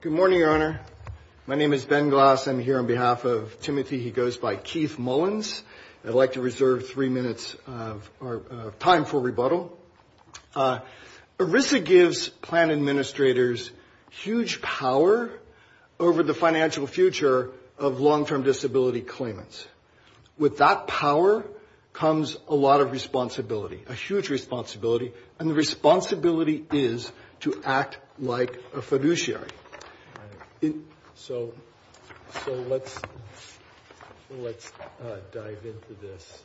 Good morning, Your Honor. My name is Ben Glass. I'm here on behalf of Timothy. He goes by Keith Mullins. I'd like to reserve three minutes of our time for rebuttal. ERISA gives plan administrators huge power over the financial future of long-term disability claimants. With that power comes a lot of responsibility, a huge responsibility, and the responsibility is to act like a fiduciary. So let's dive into this.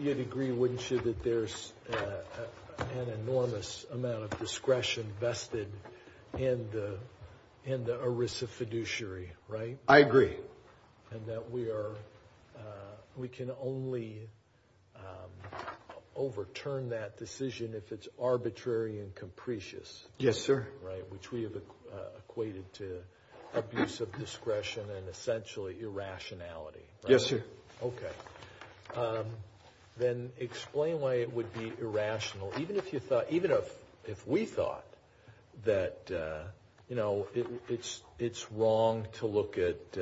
You'd agree, wouldn't you, that there's an enormous amount of discretion vested in the ERISA fiduciary, right? I agree. And that we can only overturn that decision if it's arbitrary and capricious. Yes, sir. Right, which we have equated to abuse of discretion and essentially irrationality. Yes, sir. Okay. Then explain why it would be irrational, even if you thought, even if we thought that, you know, it's wrong to look at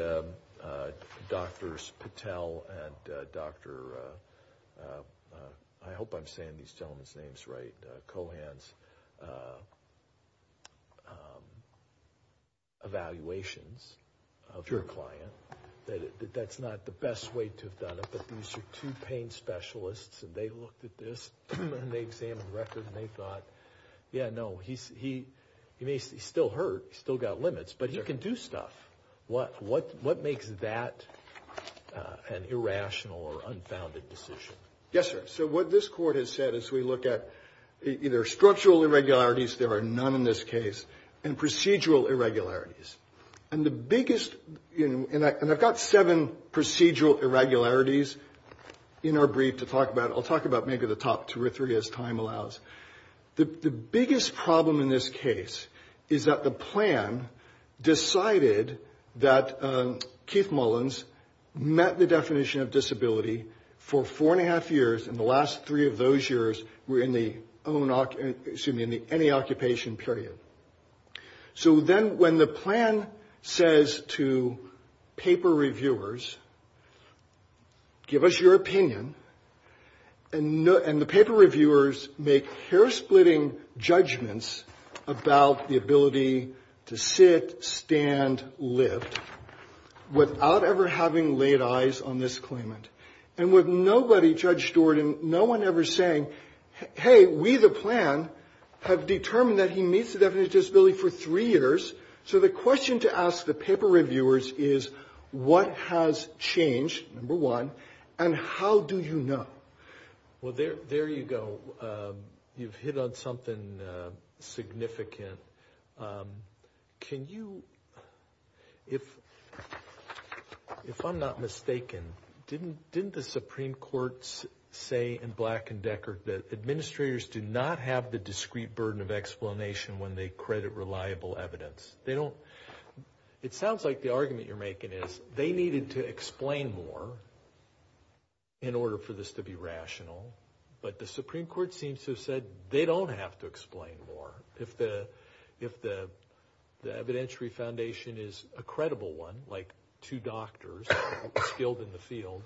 Drs. Patel and Dr., I hope I'm saying these gentlemen's names right, and Cohan's evaluations of your client, that that's not the best way to have done it, but these are two pain specialists and they looked at this and they examined the record and they thought, yeah, no, he still hurt. He's still got limits, but he can do stuff. What makes that an irrational or unfounded decision? Yes, sir. So what this court has said is we look at either structural irregularities, there are none in this case, and procedural irregularities. And the biggest, and I've got seven procedural irregularities in our brief to talk about. I'll talk about maybe the top two or three as time allows. The biggest problem in this case is that the plan decided that Keith Mullins met the definition of disability for four and a half years and the last three of those years were in the any occupation period. So then when the plan says to paper reviewers, give us your opinion, and the paper reviewers make hair-splitting judgments about the ability to sit, stand, lift, without ever having laid eyes on this claimant. And with nobody, Judge Stewart, and no one ever saying, hey, we, the plan, have determined that he meets the definition of disability for three years. So the question to ask the paper reviewers is what has changed, number one, and how do you know? Well, there you go. You've hit on something significant. Can you, if I'm not mistaken, didn't the Supreme Court say in Black and Deckard that administrators do not have the discrete burden of explanation when they credit reliable evidence? They don't, it sounds like the argument you're making is they needed to explain more in order for this to be rational, but the Supreme Court seems to have said they don't have to explain more. If the evidentiary foundation is a credible one, like two doctors skilled in the field,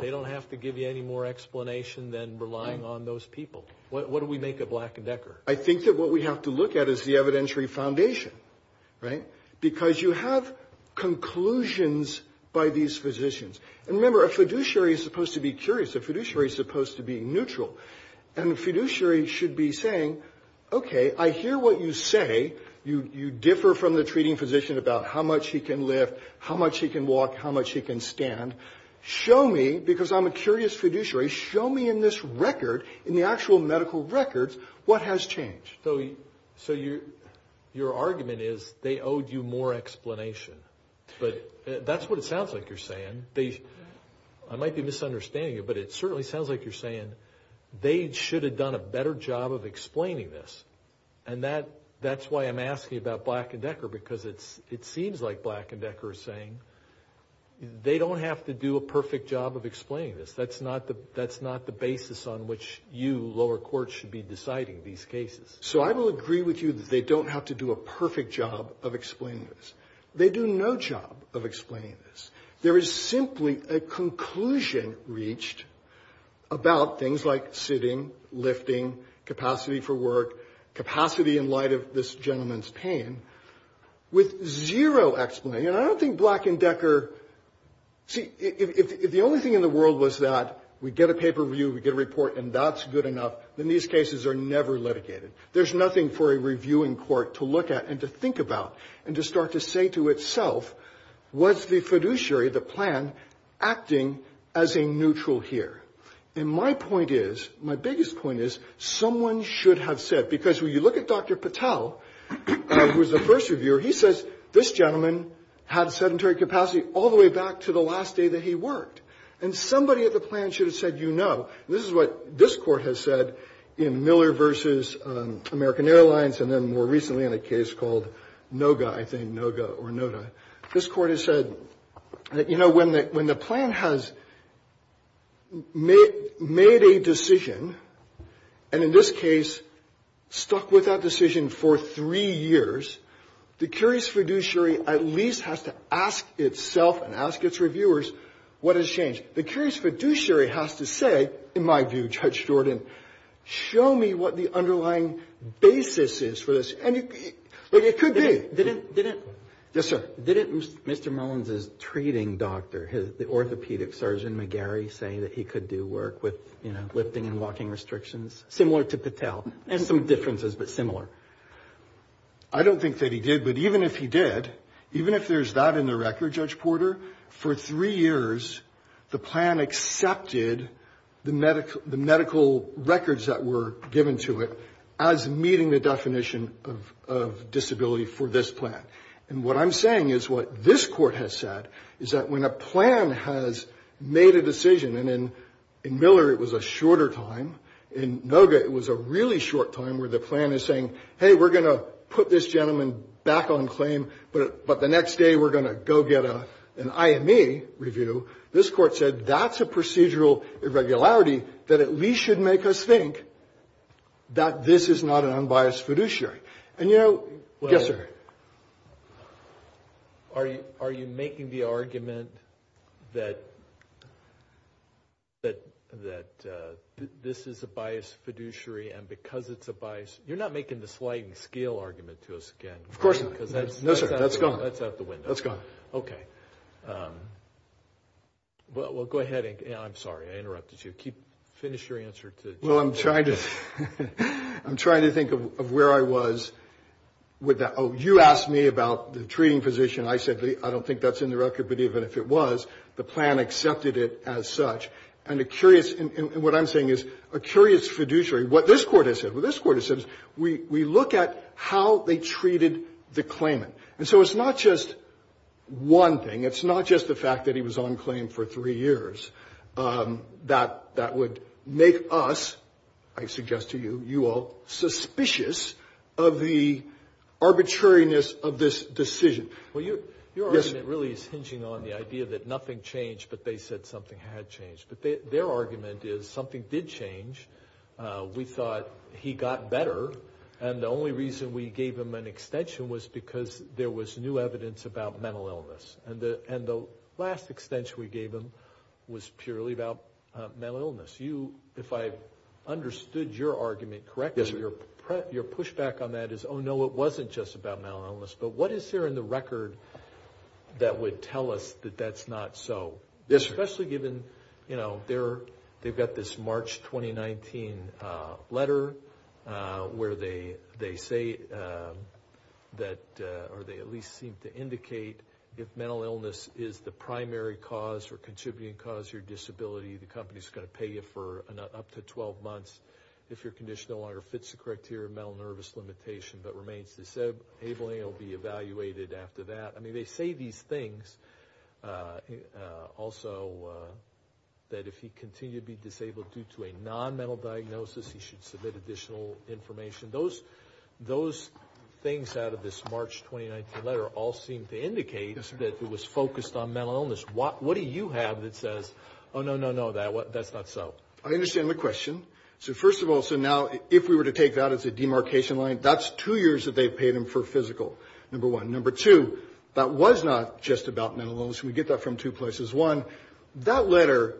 they don't have to give you any more explanation than relying on those people. What do we make of Black and Deckard? I think that what we have to look at is the evidentiary foundation, right, because you have conclusions by these physicians. And remember, a fiduciary is supposed to be curious. A fiduciary is supposed to be neutral. And a fiduciary should be saying, okay, I hear what you say. You differ from the treating physician about how much he can lift, how much he can walk, how much he can stand. Show me, because I'm a curious fiduciary, show me in this record, in the actual medical records, what has changed. So your argument is they owed you more explanation. But that's what it sounds like you're saying. I might be misunderstanding you, but it certainly sounds like you're saying they should have done a better job of explaining this. And that's why I'm asking about Black and Deckard, because it seems like Black and Deckard is saying they don't have to do a perfect job of explaining this. That's not the basis on which you, lower court, should be deciding these cases. So I will agree with you that they don't have to do a perfect job of explaining this. They do no job of explaining this. There is simply a conclusion reached about things like sitting, lifting, capacity for work, capacity in light of this gentleman's pain, with zero explanation. And I don't think Black and Deckard, see, if the only thing in the world was that we get a paper review, we get a report, and that's good enough, then these cases are never litigated. There's nothing for a reviewing court to look at and to think about and to start to say to itself, what's the fiduciary, the plan, acting as a neutral here? And my point is, my biggest point is, someone should have said, because when you look at Dr. Patel, who was the first reviewer, he says, this gentleman had sedentary capacity all the way back to the last day that he worked. And somebody at the plan should have said, you know, this is what this court has said in Miller v. American Airlines, and then more recently in a case called Noga, I think, Noga or Noda. This court has said, you know, when the plan has made a decision, and in this case, stuck with that decision for three years, the curious fiduciary at least has to ask itself and ask its reviewers what has changed. The curious fiduciary has to say, in my view, Judge Jordan, show me what the underlying basis is for this. And it could be. Yes, sir. Didn't Mr. Mullins' treating doctor, the orthopedic surgeon McGarry, say that he could do work with, you know, lifting and walking restrictions? Similar to Patel. There's some differences, but similar. I don't think that he did, but even if he did, even if there's that in the record, Judge Porter, for three years the plan accepted the medical records that were given to it as meeting the definition of disability for this plan. And what I'm saying is what this court has said is that when a plan has made a decision, and in Miller it was a shorter time, in Noga it was a really short time where the plan is saying, hey, we're going to put this gentleman back on claim, but the next day we're going to go get an IME review. This court said that's a procedural irregularity that at least should make us think that this is not an unbiased fiduciary. And, you know, yes, sir. Are you making the argument that this is a biased fiduciary, and because it's a biased, you're not making the sliding scale argument to us again. Of course not. No, sir. That's gone. That's out the window. That's gone. Okay. Well, go ahead. I'm sorry. I interrupted you. Finish your answer. Well, I'm trying to think of where I was with that. Oh, you asked me about the treating physician. I said I don't think that's in the record, but even if it was, the plan accepted it as such. And what I'm saying is a curious fiduciary, what this court has said, what this court has said, we look at how they treated the claimant. And so it's not just one thing. It's not just the fact that he was on claim for three years. That would make us, I suggest to you, you all, suspicious of the arbitrariness of this decision. Well, your argument really is hinging on the idea that nothing changed, but they said something had changed. But their argument is something did change. We thought he got better. And the only reason we gave him an extension was because there was new evidence about mental illness. And the last extension we gave him was purely about mental illness. If I understood your argument correctly, your pushback on that is, oh, no, it wasn't just about mental illness. But what is there in the record that would tell us that that's not so? Yes, sir. Especially given, you know, they've got this March 2019 letter where they say that, or they at least seem to indicate if mental illness is the primary cause or contributing cause to your disability, the company is going to pay you for up to 12 months if your condition no longer fits the criteria of mental nervous limitation, but remains disabling. It will be evaluated after that. I mean, they say these things also that if he continued to be disabled due to a non-mental diagnosis, he should submit additional information. Those things out of this March 2019 letter all seem to indicate that it was focused on mental illness. What do you have that says, oh, no, no, no, that's not so? I understand the question. So first of all, so now if we were to take that as a demarcation line, that's two years that they've paid him for physical, number one. Number two, that was not just about mental illness. We get that from two places. One, that letter,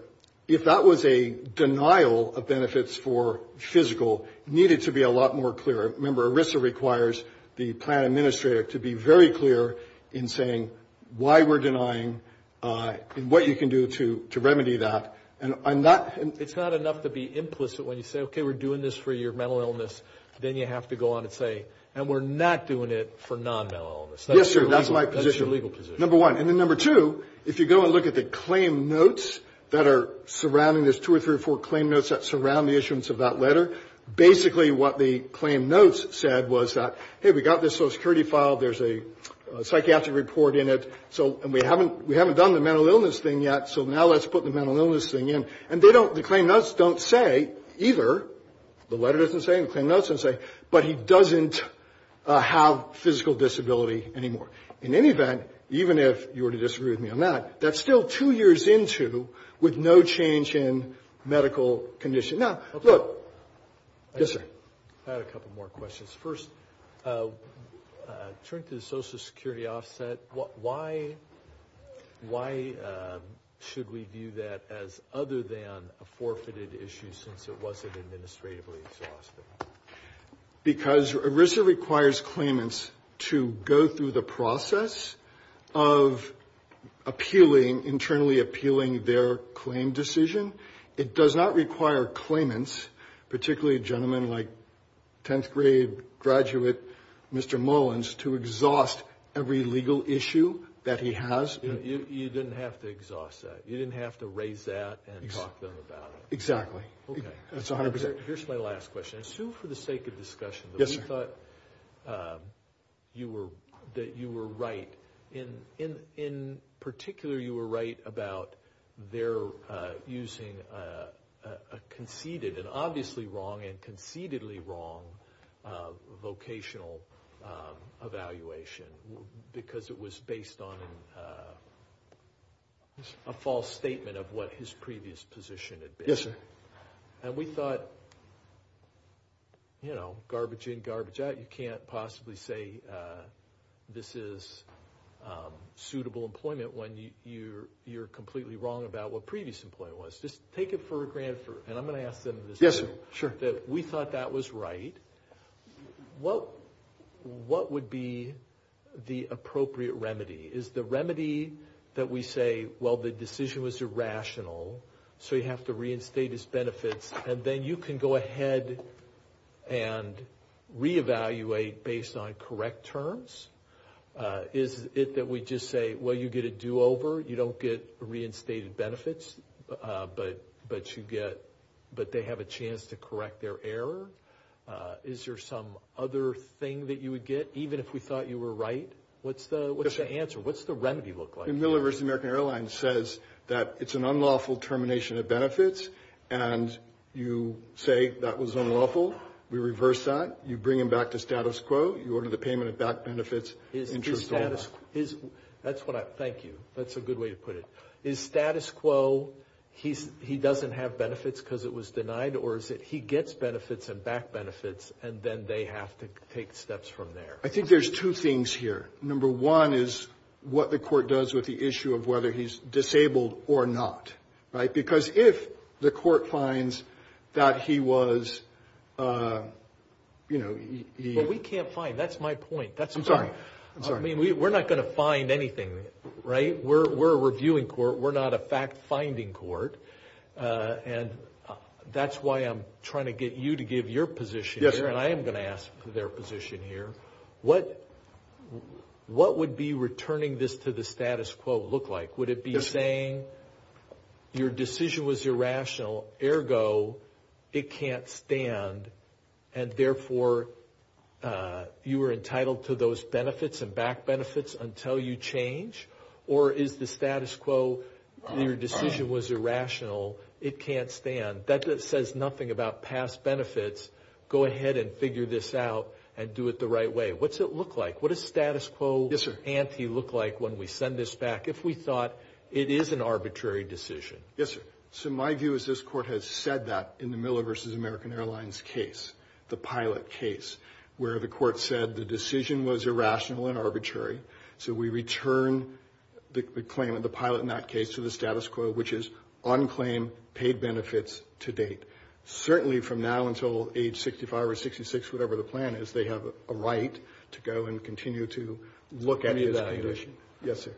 if that was a denial of benefits for physical, needed to be a lot more clear. Remember, ERISA requires the plan administrator to be very clear in saying why we're denying and what you can do to remedy that. It's not enough to be implicit when you say, okay, we're doing this for your mental illness. Then you have to go on and say, and we're not doing it for non-mental illness. Yes, sir, that's my position. That's your legal position. Number one. And then number two, if you go and look at the claim notes that are surrounding this, two or three or four claim notes that surround the issuance of that letter, basically what the claim notes said was that, hey, we got this Social Security file, there's a psychiatric report in it, and we haven't done the mental illness thing yet, so now let's put the mental illness thing in. And the claim notes don't say either, the letter doesn't say or the claim notes don't say, but he doesn't have physical disability anymore. In any event, even if you were to disagree with me on that, that's still two years into with no change in medical condition. Now, look. Yes, sir. I had a couple more questions. First, turning to the Social Security offset, why should we view that as other than a forfeited issue since it wasn't administratively exhausted? Because ERISA requires claimants to go through the process of appealing, internally appealing their claim decision. It does not require claimants, particularly a gentleman like 10th grade graduate Mr. Mullins, to exhaust every legal issue that he has. You didn't have to exhaust that. You didn't have to raise that and talk to them about it. Exactly. Okay. That's 100%. Here's my last question. Sue, for the sake of discussion, we thought that you were right. In particular, you were right about their using a conceded and obviously wrong and concededly wrong vocational evaluation because it was based on a false statement of what his previous position had been. Yes, sir. And we thought, you know, garbage in, garbage out. You can't possibly say this is suitable employment when you're completely wrong about what previous employment was. Just take it for granted. And I'm going to ask them this. Yes, sir. Sure. We thought that was right. What would be the appropriate remedy? Is the remedy that we say, well, the decision was irrational, so you have to reinstate his benefits, and then you can go ahead and reevaluate based on correct terms? Is it that we just say, well, you get a do-over, you don't get reinstated benefits, but they have a chance to correct their error? Is there some other thing that you would get, even if we thought you were right? What's the answer? What's the remedy look like? Miller vs. American Airlines says that it's an unlawful termination of benefits and you say that was unlawful. We reverse that. You bring him back to status quo. You order the payment of back benefits. Thank you. That's a good way to put it. Is status quo he doesn't have benefits because it was denied, or is it he gets benefits and back benefits, and then they have to take steps from there? I think there's two things here. Number one is what the court does with the issue of whether he's disabled or not. Because if the court finds that he was... We can't find. That's my point. I'm sorry. We're not going to find anything. We're a reviewing court. We're not a fact-finding court. That's why I'm trying to get you to give your position here, and I am going to ask for their position here. What would be returning this to the status quo look like? Would it be saying your decision was irrational, ergo it can't stand, and therefore you are entitled to those benefits and back benefits until you change? Or is the status quo your decision was irrational, it can't stand? That says nothing about past benefits. Go ahead and figure this out and do it the right way. What's it look like? What does status quo ante look like when we send this back? If we thought it is an arbitrary decision. Yes, sir. So my view is this court has said that in the Miller v. American Airlines case, the pilot case, where the court said the decision was irrational and arbitrary. So we return the claim of the pilot in that case to the status quo, which is on claim, paid benefits to date. Certainly from now until age 65 or 66, whatever the plan is, they have a right to go and continue to look at his condition. Yes, sir.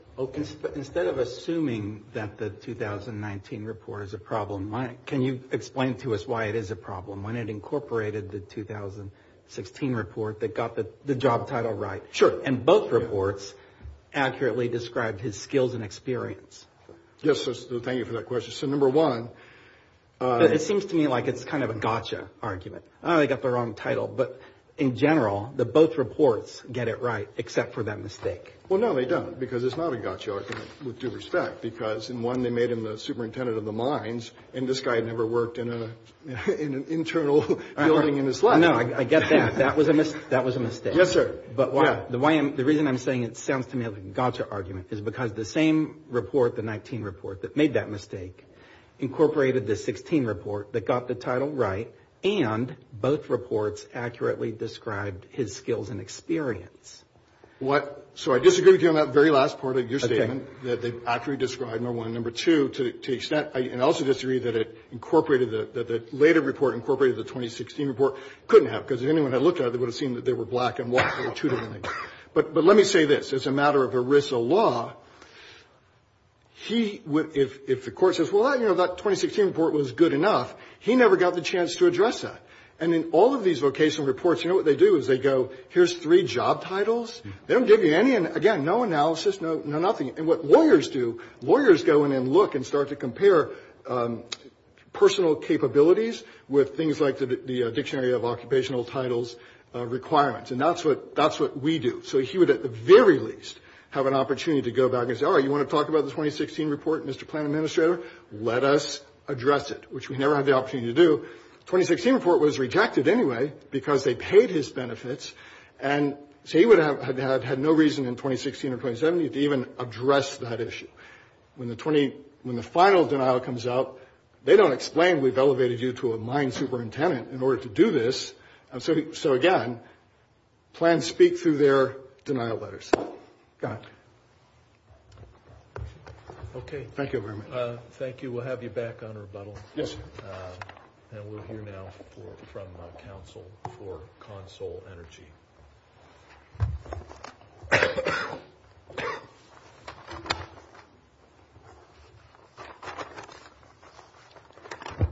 Instead of assuming that the 2019 report is a problem, can you explain to us why it is a problem? When it incorporated the 2016 report that got the job title right. Sure. And both reports accurately described his skills and experience. Yes, thank you for that question. So number one. It seems to me like it's kind of a gotcha argument. Oh, they got the wrong title. But in general, both reports get it right except for that mistake. Well, no, they don't because it's not a gotcha argument with due respect because in one they made him the superintendent of the mines and this guy had never worked in an internal building in his life. No, I get that. That was a mistake. Yes, sir. But the reason I'm saying it sounds to me like a gotcha argument is because the same report, the 19 report that made that mistake, incorporated the 16 report that got the title right and both reports accurately described his skills and experience. What? So I disagree with you on that very last part of your statement. Okay. That they accurately described, number one. Number two, to the extent, and I also disagree that it incorporated the later report incorporated the 2016 report, couldn't have because if anyone had looked at it, it would have seemed that they were black and white. But let me say this. As a matter of ERISA law, he would, if the Court says, well, you know, that 2016 report was good enough, he never got the chance to address that. And in all of these vocational reports, you know what they do is they go, here's three job titles. They don't give you any, again, no analysis, no nothing. And what lawyers do, lawyers go in and look and start to compare personal capabilities with things like the Dictionary of Occupational Titles requirements. And that's what we do. So he would, at the very least, have an opportunity to go back and say, all right, you want to talk about the 2016 report, Mr. Plan Administrator, let us address it, which we never had the opportunity to do. The 2016 report was rejected anyway because they paid his benefits. And so he would have had no reason in 2016 or 2017 to even address that issue. When the final denial comes out, they don't explain we've elevated you to a mine superintendent in order to do this. So, again, plans speak through their denial letters. Go ahead. Okay. Thank you. We'll have you back on rebuttal. Yes, sir. And we'll hear now from counsel for Consol Energy.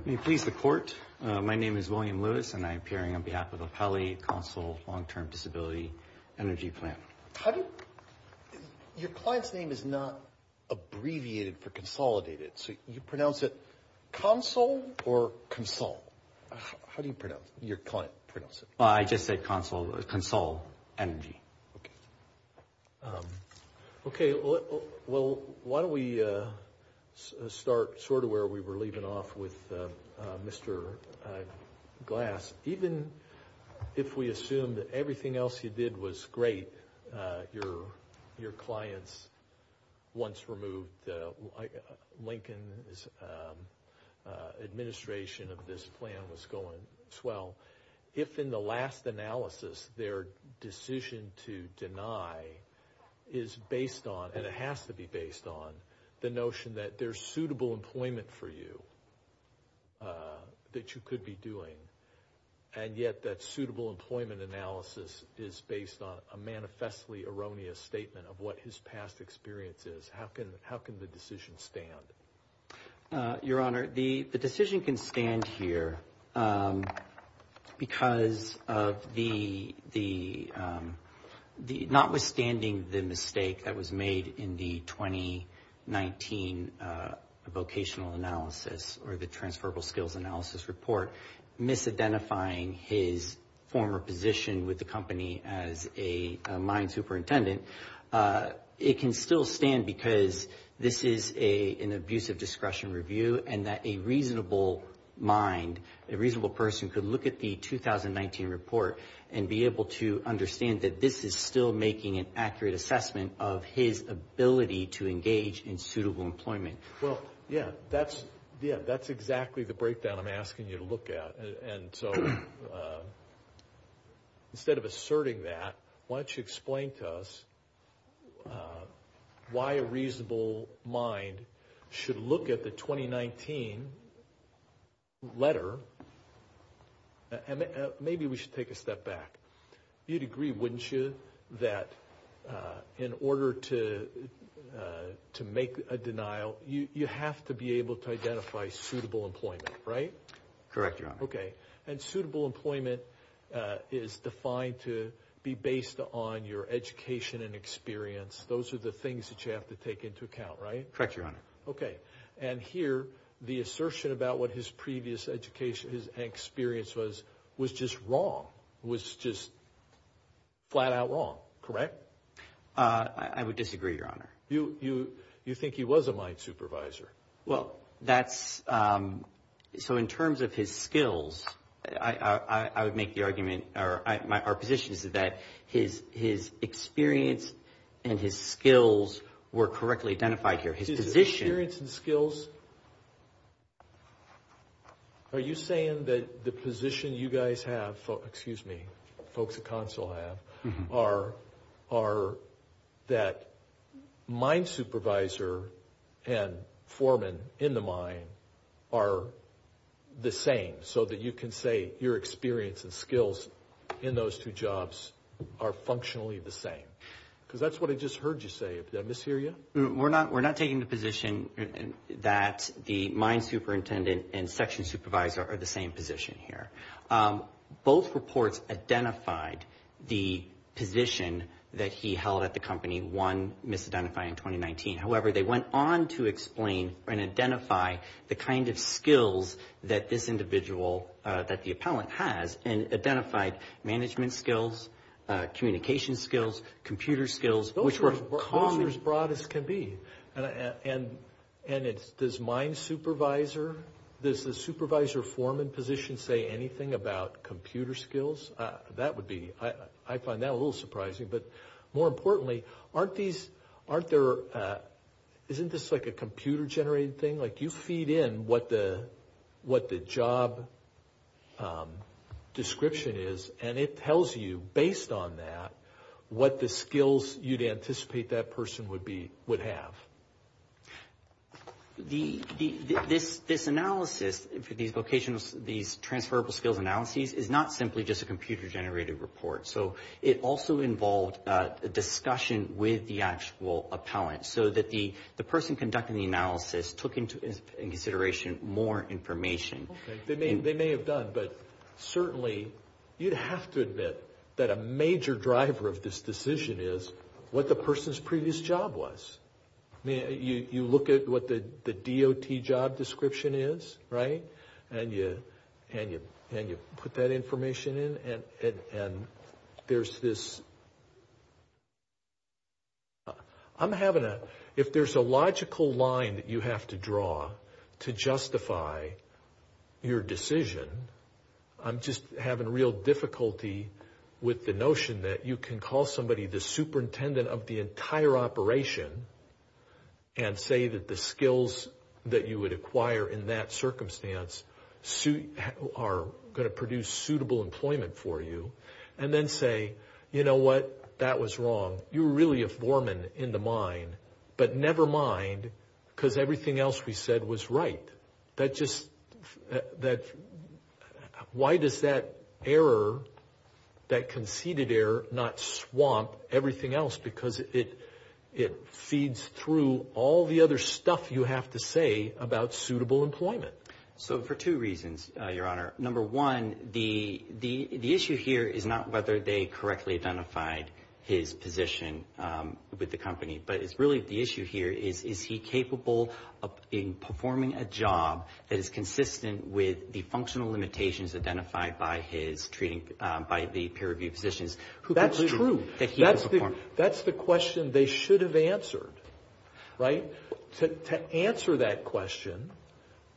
May it please the court, my name is William Lewis, and I'm appearing on behalf of the Pali Consul Long-Term Disability Energy Plan. How do you – your client's name is not abbreviated for consolidated, so you pronounce it consul or consul? How do you pronounce it? Your client pronounces it. I just say consul, consul energy. Okay. Okay. Well, why don't we start sort of where we were leaving off with Mr. Glass. Even if we assume that everything else you did was great, your clients once removed Lincoln's administration of this plan was going swell, if in the last analysis their decision to deny is based on, and it has to be based on, the notion that there's suitable employment for you that you could be doing, and yet that suitable employment analysis is based on a manifestly erroneous statement of what his past experience is. How can the decision stand? Your Honor, the decision can stand here because of the – notwithstanding the mistake that was made in the 2019 vocational analysis or the transferable skills analysis report, misidentifying his former position with the company as a mine superintendent, it can still stand because this is an abusive discretion review and that a reasonable mind, a reasonable person could look at the 2019 report and be able to understand that this is still making an accurate assessment of his ability to engage in suitable employment. Well, yeah, that's exactly the breakdown I'm asking you to look at. And so instead of asserting that, why don't you explain to us why a reasonable mind should look at the 2019 letter, and maybe we should take a step back. You'd agree, wouldn't you, that in order to make a denial, you have to be able to identify suitable employment, right? Correct, Your Honor. Okay, and suitable employment is defined to be based on your education and experience. Those are the things that you have to take into account, right? Correct, Your Honor. Okay, and here the assertion about what his previous education and experience was was just wrong, was just flat-out wrong, correct? I would disagree, Your Honor. You think he was a mine supervisor. Well, that's—so in terms of his skills, I would make the argument, our position is that his experience and his skills were correctly identified here. His experience and skills? Are you saying that the position you guys have, excuse me, folks at consul have, are that mine supervisor and foreman in the mine are the same, so that you can say your experience and skills in those two jobs are functionally the same? Because that's what I just heard you say. Did I mishear you? We're not taking the position that the mine superintendent and section supervisor are the same position here. Both reports identified the position that he held at the company. One misidentified in 2019. However, they went on to explain and identify the kind of skills that this individual, that the appellant has, and identified management skills, communication skills, computer skills, which were as broad as can be. And does mine supervisor, does the supervisor foreman position say anything about computer skills? That would be—I find that a little surprising. But more importantly, aren't these—isn't this like a computer-generated thing? Like you feed in what the job description is, and it tells you, based on that, what the skills you'd anticipate that person would have. This analysis, these vocational—these transferable skills analyses, is not simply just a computer-generated report. So it also involved a discussion with the actual appellant, so that the person conducting the analysis took into consideration more information. They may have done, but certainly you'd have to admit that a major driver of this decision is what the person's previous job was. You look at what the DOT job description is, right? And you put that information in, and there's this— If there's a logical line that you have to draw to justify your decision, I'm just having real difficulty with the notion that you can call somebody the superintendent of the entire operation and say that the skills that you would acquire in that circumstance are going to produce suitable employment for you, and then say, you know what? That was wrong. You were really a foreman in the mine, but never mind, because everything else we said was right. That just—why does that error, that conceded error, not swamp everything else? Because it feeds through all the other stuff you have to say about suitable employment. So for two reasons, Your Honor. Number one, the issue here is not whether they correctly identified his position with the company, but it's really the issue here is, is he capable of performing a job that is consistent with the functional limitations identified by the peer-reviewed positions? That's true. That he could perform. That's the question they should have answered, right? To answer that question,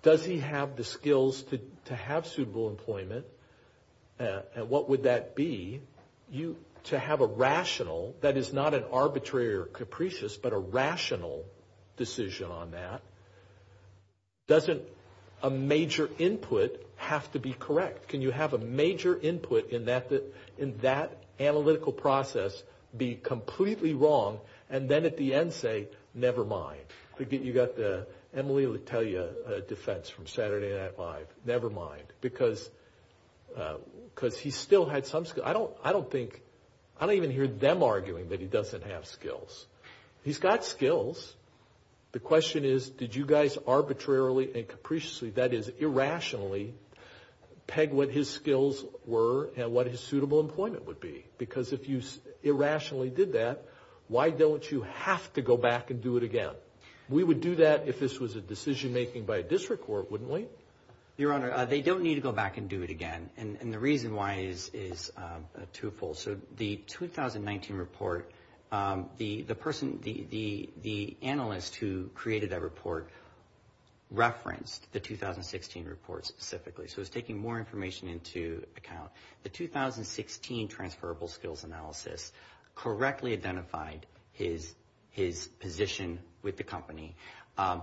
does he have the skills to have suitable employment, and what would that be? To have a rational, that is not an arbitrary or capricious, but a rational decision on that, doesn't a major input have to be correct? Can you have a major input in that analytical process be completely wrong, and then at the end say, never mind? Forget you got the Emily Letelier defense from Saturday Night Live. Never mind, because he still had some skills. I don't think—I don't even hear them arguing that he doesn't have skills. He's got skills. The question is, did you guys arbitrarily and capriciously, that is, irrationally, peg what his skills were and what his suitable employment would be? Because if you irrationally did that, why don't you have to go back and do it again? We would do that if this was a decision-making by a district court, wouldn't we? Your Honor, they don't need to go back and do it again, and the reason why is twofold. So the 2019 report, the person, the analyst who created that report referenced the 2016 report specifically, so it's taking more information into account. The 2016 transferable skills analysis correctly identified his position with the company,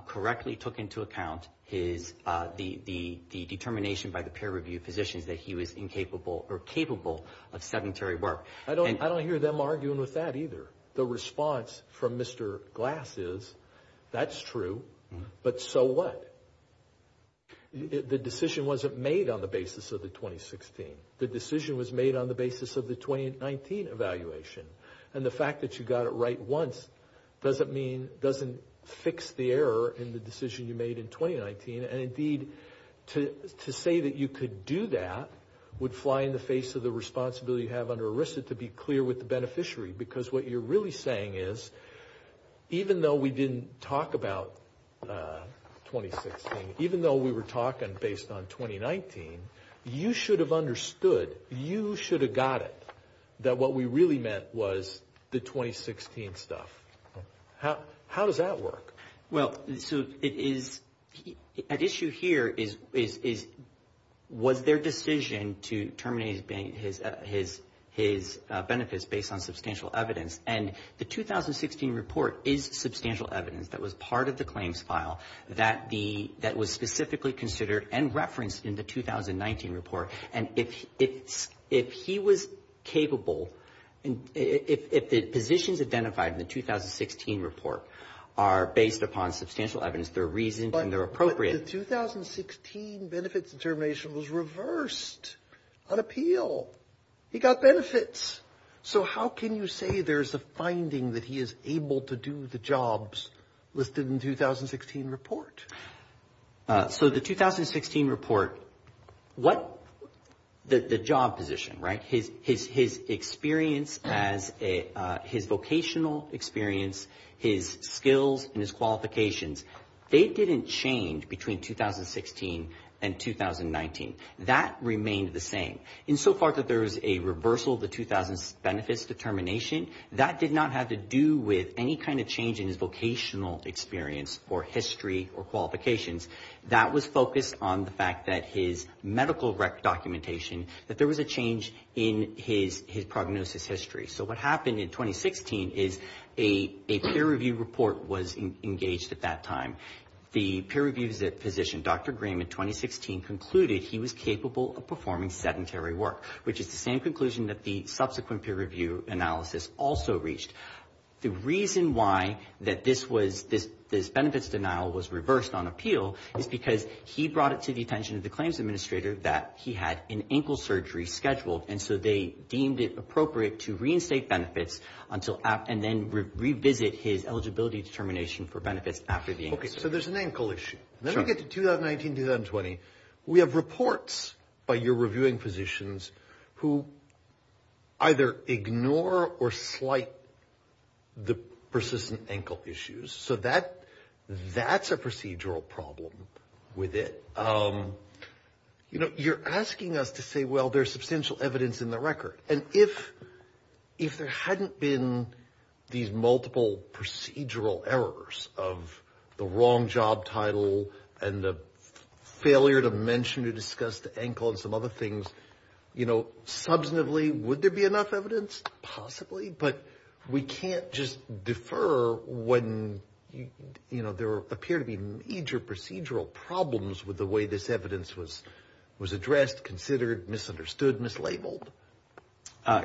correctly took into account the determination by the peer review positions that he was incapable or capable of sedentary work. I don't hear them arguing with that either. The response from Mr. Glass is, that's true, but so what? The decision wasn't made on the basis of the 2016. The decision was made on the basis of the 2019 evaluation, and the fact that you got it right once doesn't fix the error in the decision you made in 2019, and indeed, to say that you could do that would fly in the face of the responsibility you have under ERISA to be clear with the beneficiary, because what you're really saying is, even though we didn't talk about 2016, even though we were talking based on 2019, you should have understood, you should have got it, that what we really meant was the 2016 stuff. How does that work? Well, so it is, at issue here is, was their decision to terminate his benefits based on substantial evidence, and the 2016 report is substantial evidence that was part of the claims file that the, that was specifically considered and referenced in the 2019 report, and if he was capable, if the positions identified in the 2016 report are based upon substantial evidence, they're reasoned and they're appropriate. But the 2016 benefits determination was reversed on appeal. He got benefits. So how can you say there's a finding that he is able to do the jobs listed in the 2016 report? So the 2016 report, what, the job position, right, his experience as a, his vocational experience, his skills and his qualifications, they didn't change between 2016 and 2019. That remained the same. Insofar that there is a reversal of the 2000 benefits determination, that did not have to do with any kind of change in his vocational experience or history or qualifications. That was focused on the fact that his medical rec documentation, that there was a change in his prognosis history. So what happened in 2016 is a peer review report was engaged at that time. The peer review physician, Dr. Green, in 2016 concluded he was capable of performing sedentary work, which is the same conclusion that the subsequent peer review analysis also reached. The reason why that this was, this benefits denial was reversed on appeal is because he brought it to the attention of the claims administrator that he had an ankle surgery scheduled, and so they deemed it appropriate to reinstate benefits until, and then revisit his eligibility determination for benefits after the ankle surgery. Okay, so there's an ankle issue. Sure. Then we get to 2019, 2020. We have reports by your reviewing physicians who either ignore or slight the persistent ankle issues. So that, that's a procedural problem with it. You know, you're asking us to say, well, there's substantial evidence in the record. And if, if there hadn't been these multiple procedural errors of the wrong job title and the failure to mention or discuss the ankle and some other things, you know, substantively would there be enough evidence? Possibly. But we can't just defer when, you know, there appear to be major procedural problems with the way this evidence was, was addressed, considered, misunderstood, mislabeled.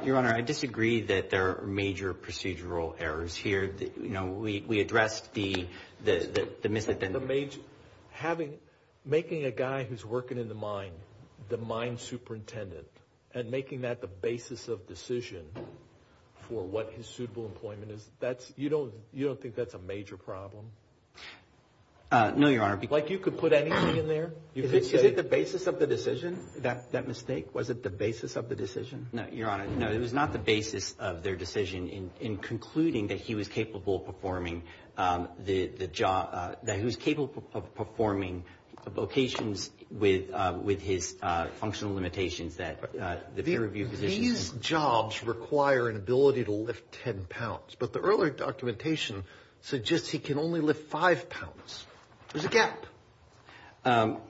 Your Honor, I disagree that there are major procedural errors here. You know, we, we addressed the, the, the, the misidentification. Having, making a guy who's working in the mine, the mine superintendent, and making that the basis of decision for what his suitable employment is, that's, you don't, you don't think that's a major problem? No, Your Honor. Like you could put anything in there? Is it the basis of the decision, that, that mistake? Was it the basis of the decision? No, Your Honor, no, it was not the basis of their decision in, in concluding that he was capable of performing the, the job, that he was capable of performing vocations with, with his functional limitations that the peer review positions. These jobs require an ability to lift 10 pounds. But the earlier documentation suggests he can only lift 5 pounds. There's a gap.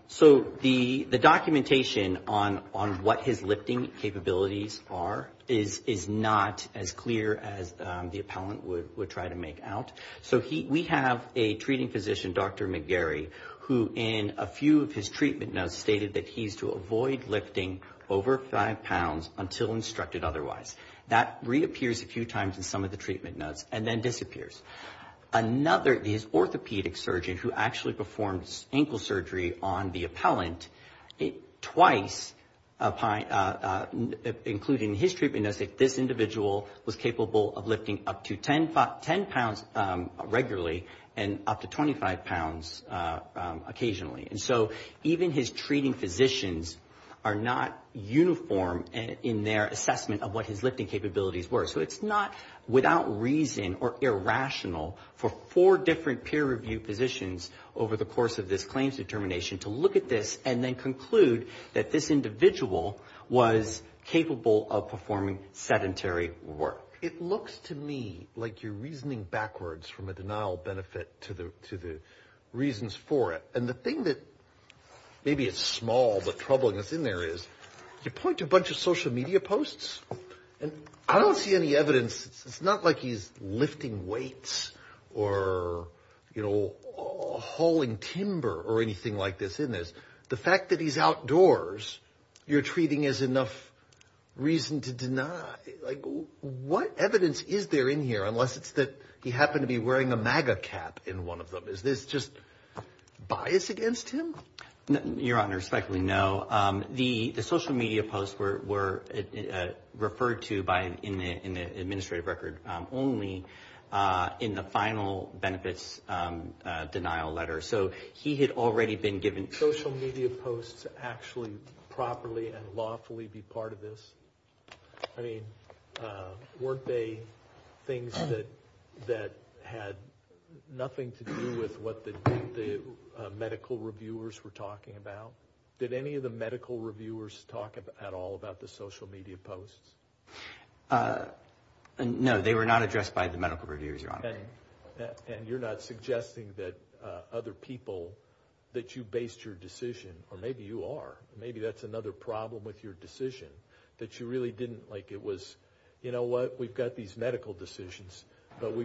So the, the documentation on, on what his lifting capabilities are is, is not as clear as the appellant would, would try to make out. So he, we have a treating physician, Dr. McGarry, who in a few of his treatment notes stated that he's to avoid lifting over 5 pounds until instructed otherwise. That reappears a few times in some of the treatment notes and then disappears. Another, his orthopedic surgeon who actually performs ankle surgery on the appellant, twice, including his treatment notes, this individual was capable of lifting up to 10 pounds regularly and up to 25 pounds occasionally. And so even his treating physicians are not uniform in their assessment of what his lifting capabilities were. So it's not without reason or irrational for four different peer review positions over the course of this claims determination to look at this and then conclude that this individual was capable of performing sedentary work. It looks to me like you're reasoning backwards from a denial benefit to the, to the reasons for it. And the thing that maybe is small but troubling that's in there is, you point to a bunch of social media posts and I don't see any evidence, it's not like he's lifting weights or, you know, hauling timber or anything like this in this. The fact that he's outdoors, you're treating as enough reason to deny. Like, what evidence is there in here, unless it's that he happened to be wearing a MAGA cap in one of them. Is this just bias against him? Your Honor, respectfully, no. The social media posts were referred to by, in the administrative record only, in the final benefits denial letter. So he had already been given. Social media posts actually properly and lawfully be part of this? I mean, weren't they things that had nothing to do with what the medical reviewers were talking about? Did any of the medical reviewers talk at all about the social media posts? No, they were not addressed by the medical reviewers, Your Honor. And you're not suggesting that other people, that you based your decision, or maybe you are. Maybe that's another problem with your decision, that you really didn't, like it was, you know what, we've got these medical decisions, but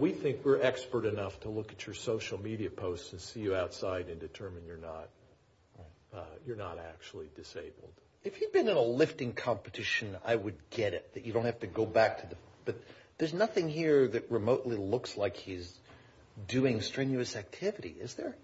we think we're expert enough to look at your social media posts and see you outside and determine you're not actually disabled. If he'd been in a lifting competition, I would get it, that you don't have to go back to the, but there's nothing here that remotely looks like he's doing strenuous activity, is there?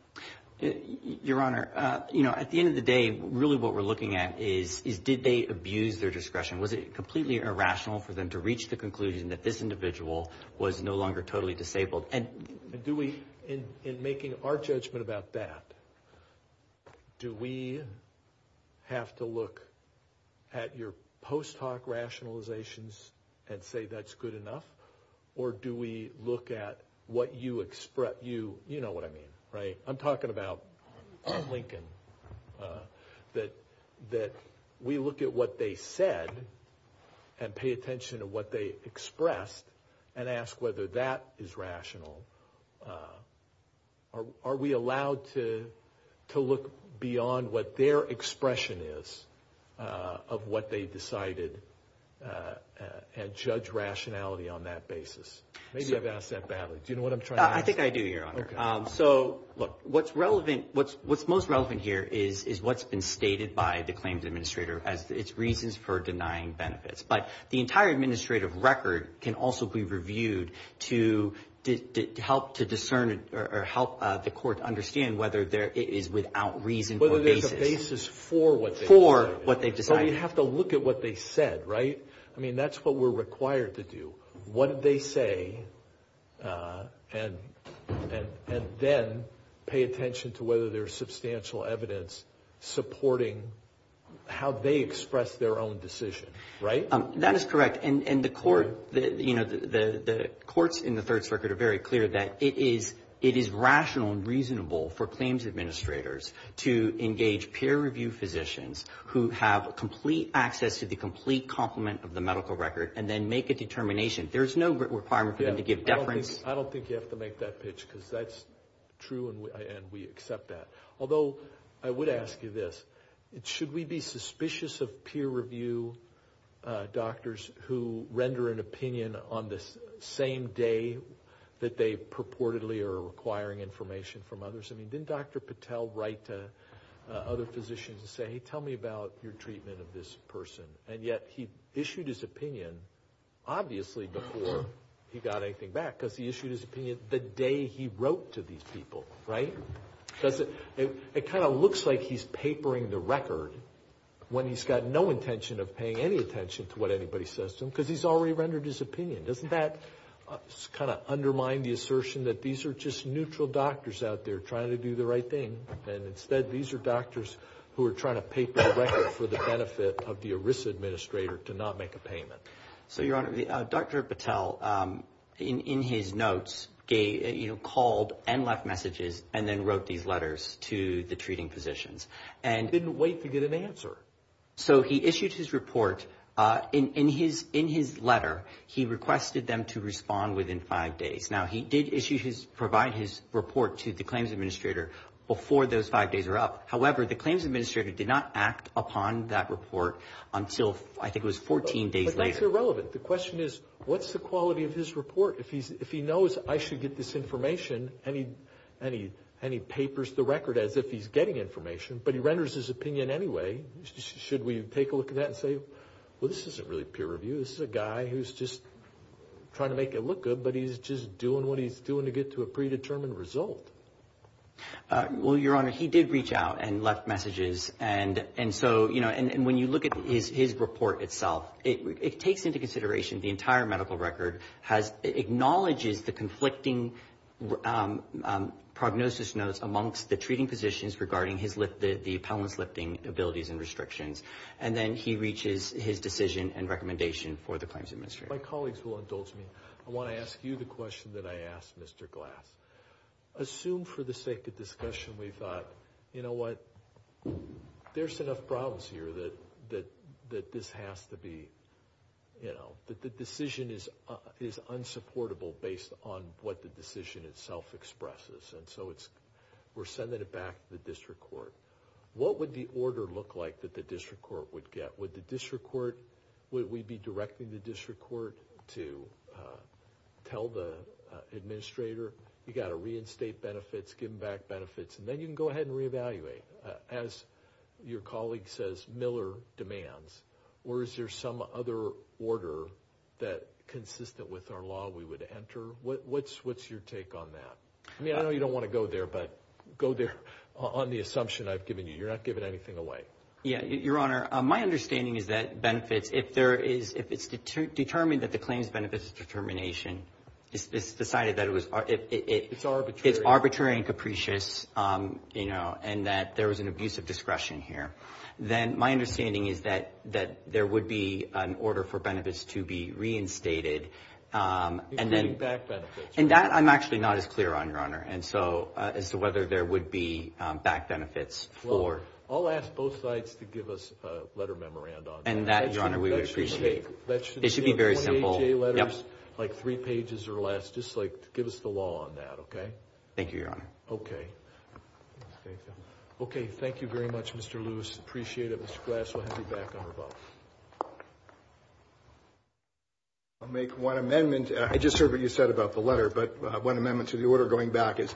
Your Honor, you know, at the end of the day, really what we're looking at is, did they abuse their discretion? Was it completely irrational for them to reach the conclusion that this individual was no longer totally disabled? And do we, in making our judgment about that, do we have to look at your post hoc rationalizations and say that's good enough? Or do we look at what you, you know what I mean, right? I'm talking about Lincoln, that we look at what they said and pay attention to what they expressed and ask whether that is rational. Are we allowed to look beyond what their expression is of what they decided and judge rationality on that basis? Maybe I've asked that badly. Do you know what I'm trying to ask? I think I do, Your Honor. Okay. So, look, what's relevant, what's most relevant here is what's been stated by the claims administrator as its reasons for denying benefits. But the entire administrative record can also be reviewed to help to discern or help the court understand whether it is without reason or basis. Whether there's a basis for what they've decided. For what they've decided. But we have to look at what they said, right? I mean, that's what we're required to do. What did they say? And then pay attention to whether there's substantial evidence supporting how they expressed their own decision, right? That is correct. And the courts in the Third Circuit are very clear that it is rational and reasonable for claims administrators to engage peer-reviewed physicians who have complete access to the complete complement of the medical record and then make a determination. There's no requirement for them to give deference. I don't think you have to make that pitch because that's true and we accept that. Although, I would ask you this. Should we be suspicious of peer-reviewed doctors who render an opinion on the same day that they purportedly are requiring information from others? I mean, didn't Dr. Patel write to other physicians and say, hey, tell me about your treatment of this person? And yet he issued his opinion obviously before he got anything back because he issued his opinion the day he wrote to these people, right? It kind of looks like he's papering the record when he's got no intention of paying any attention to what anybody says to him because he's already rendered his opinion. Doesn't that kind of undermine the assertion that these are just neutral doctors out there trying to do the right thing and instead these are doctors who are trying to paper the record for the benefit of the ERISA administrator to not make a payment? So, Your Honor, Dr. Patel, in his notes, called and left messages and then wrote these letters to the treating physicians. He didn't wait to get an answer. So, he issued his report. In his letter, he requested them to respond within five days. Now, he did provide his report to the claims administrator before those five days were up. That's irrelevant. The question is what's the quality of his report? If he knows I should get this information and he papers the record as if he's getting information, but he renders his opinion anyway, should we take a look at that and say, well, this isn't really peer review. This is a guy who's just trying to make it look good, but he's just doing what he's doing to get to a predetermined result? Well, Your Honor, he did reach out and left messages. And so, when you look at his report itself, it takes into consideration the entire medical record, acknowledges the conflicting prognosis notes amongst the treating physicians regarding the appellant's lifting abilities and restrictions, and then he reaches his decision and recommendation for the claims administrator. My colleagues will indulge me. I want to ask you the question that I asked Mr. Glass. Assume for the sake of discussion we thought, you know what, there's enough problems here that this has to be, you know, that the decision is unsupportable based on what the decision itself expresses. And so, we're sending it back to the district court. What would the order look like that the district court would get? Would we be directing the district court to tell the administrator, you've got to reinstate benefits, give them back benefits, and then you can go ahead and reevaluate. As your colleague says, Miller demands. Or is there some other order that, consistent with our law, we would enter? What's your take on that? I mean, I know you don't want to go there, but go there on the assumption I've given you. You're not giving anything away. Yeah. Your Honor, my understanding is that benefits, if it's determined that the claims benefit is determination, it's decided that it's arbitrary and capricious, you know, and that there was an abuse of discretion here, then my understanding is that there would be an order for benefits to be reinstated. Including back benefits. And that I'm actually not as clear on, Your Honor, as to whether there would be back benefits for. I'll ask both sides to give us a letter memorandum. And that, Your Honor, we would appreciate. It should be very simple. 28-J letters, like three pages or less, just like give us the law on that, okay? Thank you, Your Honor. Okay. Okay, thank you very much, Mr. Lewis. Appreciate it. Mr. Glass, we'll have you back on rebuttal. I'll make one amendment. I just heard what you said about the letter, but one amendment to the order going back is,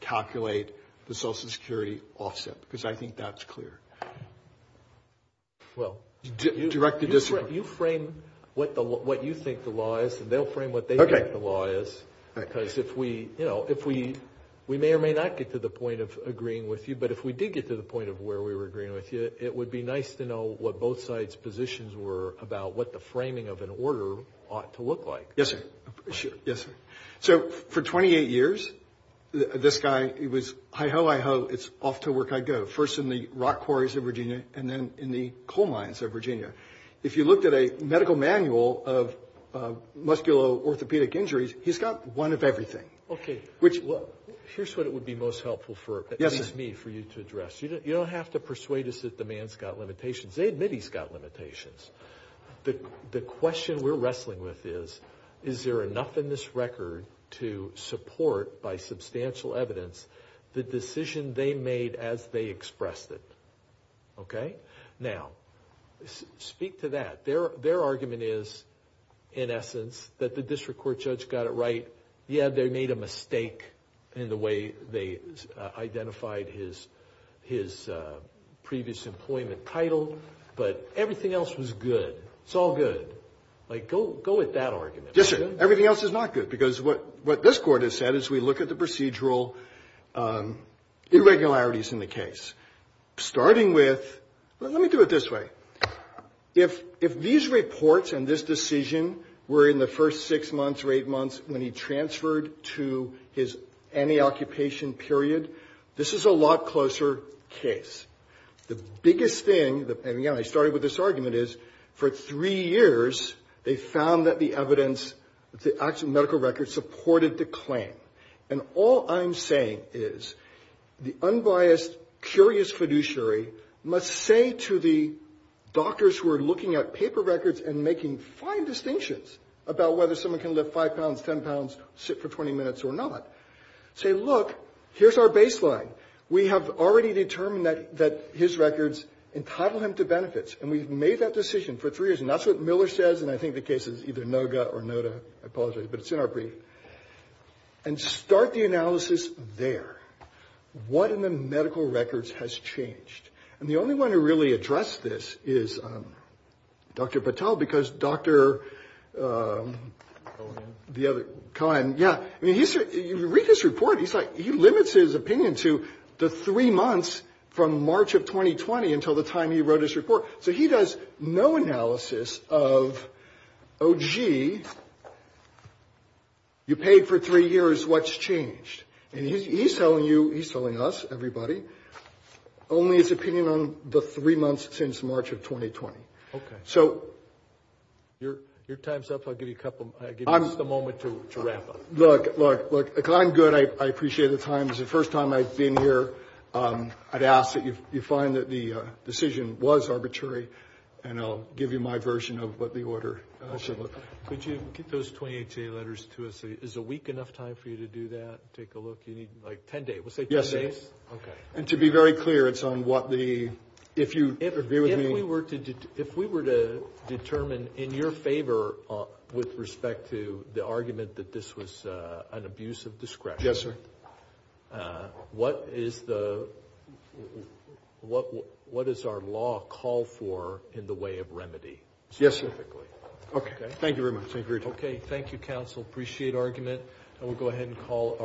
calculate the Social Security offset, because I think that's clear. Well, you frame what you think the law is, and they'll frame what they think the law is, because if we, you know, we may or may not get to the point of agreeing with you, but if we did get to the point of where we were agreeing with you, it would be nice to know what both sides' positions were about what the framing of an order ought to look like. Yes, sir. Yes, sir. So for 28 years, this guy was hi-ho, hi-ho, it's off to work I go, first in the rock quarries of Virginia and then in the coal mines of Virginia. If you looked at a medical manual of musculo-orthopedic injuries, he's got one of everything. Okay. Here's what it would be most helpful for, at least me, for you to address. You don't have to persuade us that the man's got limitations. They admit he's got limitations. The question we're wrestling with is, is there enough in this record to support, by substantial evidence, the decision they made as they expressed it? Okay. Now, speak to that. Their argument is, in essence, that the district court judge got it right. Yeah, they made a mistake in the way they identified his previous employment title, but everything else was good. It's all good. Like, go with that argument. Yes, sir. Everything else is not good. Because what this Court has said is we look at the procedural irregularities in the case. Starting with, let me do it this way. If these reports and this decision were in the first six months or eight months when he transferred to his anti-occupation period, this is a lot closer case. The biggest thing, and, again, I started with this argument, is for three years they found that the evidence, the actual medical records, supported the claim. And all I'm saying is the unbiased, curious fiduciary must say to the doctors who are looking at paper records and making fine distinctions about whether someone can lift 5 pounds, 10 pounds, sit for 20 minutes or not, say, look, here's our baseline. We have already determined that his records entitle him to benefits, and we've made that decision for three years. And that's what Miller says, and I think the case is either Noga or Noda. I apologize, but it's in our brief. And start the analysis there. What in the medical records has changed? And the only one who really addressed this is Dr. Patel because Dr. Cohen, yeah, I mean, you read his report. He's like, he limits his opinion to the three months from March of 2020 until the time he wrote his report. So he does no analysis of, oh, gee, you paid for three years. What's changed? And he's telling you, he's telling us, everybody, only his opinion on the three months since March of 2020. So your time's up. I'll give you just a moment to wrap up. Look, look, look, I'm good. I appreciate the time. It's the first time I've been here. I'd ask that you find that the decision was arbitrary, and I'll give you my version of what the order should look like. Could you get those 20HA letters to us? Is a week enough time for you to do that, take a look? You need, like, 10 days. We'll say 10 days? Yes. Okay. And to be very clear, it's on what the, if you agree with me. If we were to determine in your favor with respect to the argument that this was an abuse of discretion. Yes, sir. What is the, what does our law call for in the way of remedy? Yes, sir. Okay. Thank you very much. Okay. Thank you, counsel. Appreciate argument. And we'll go ahead and call our.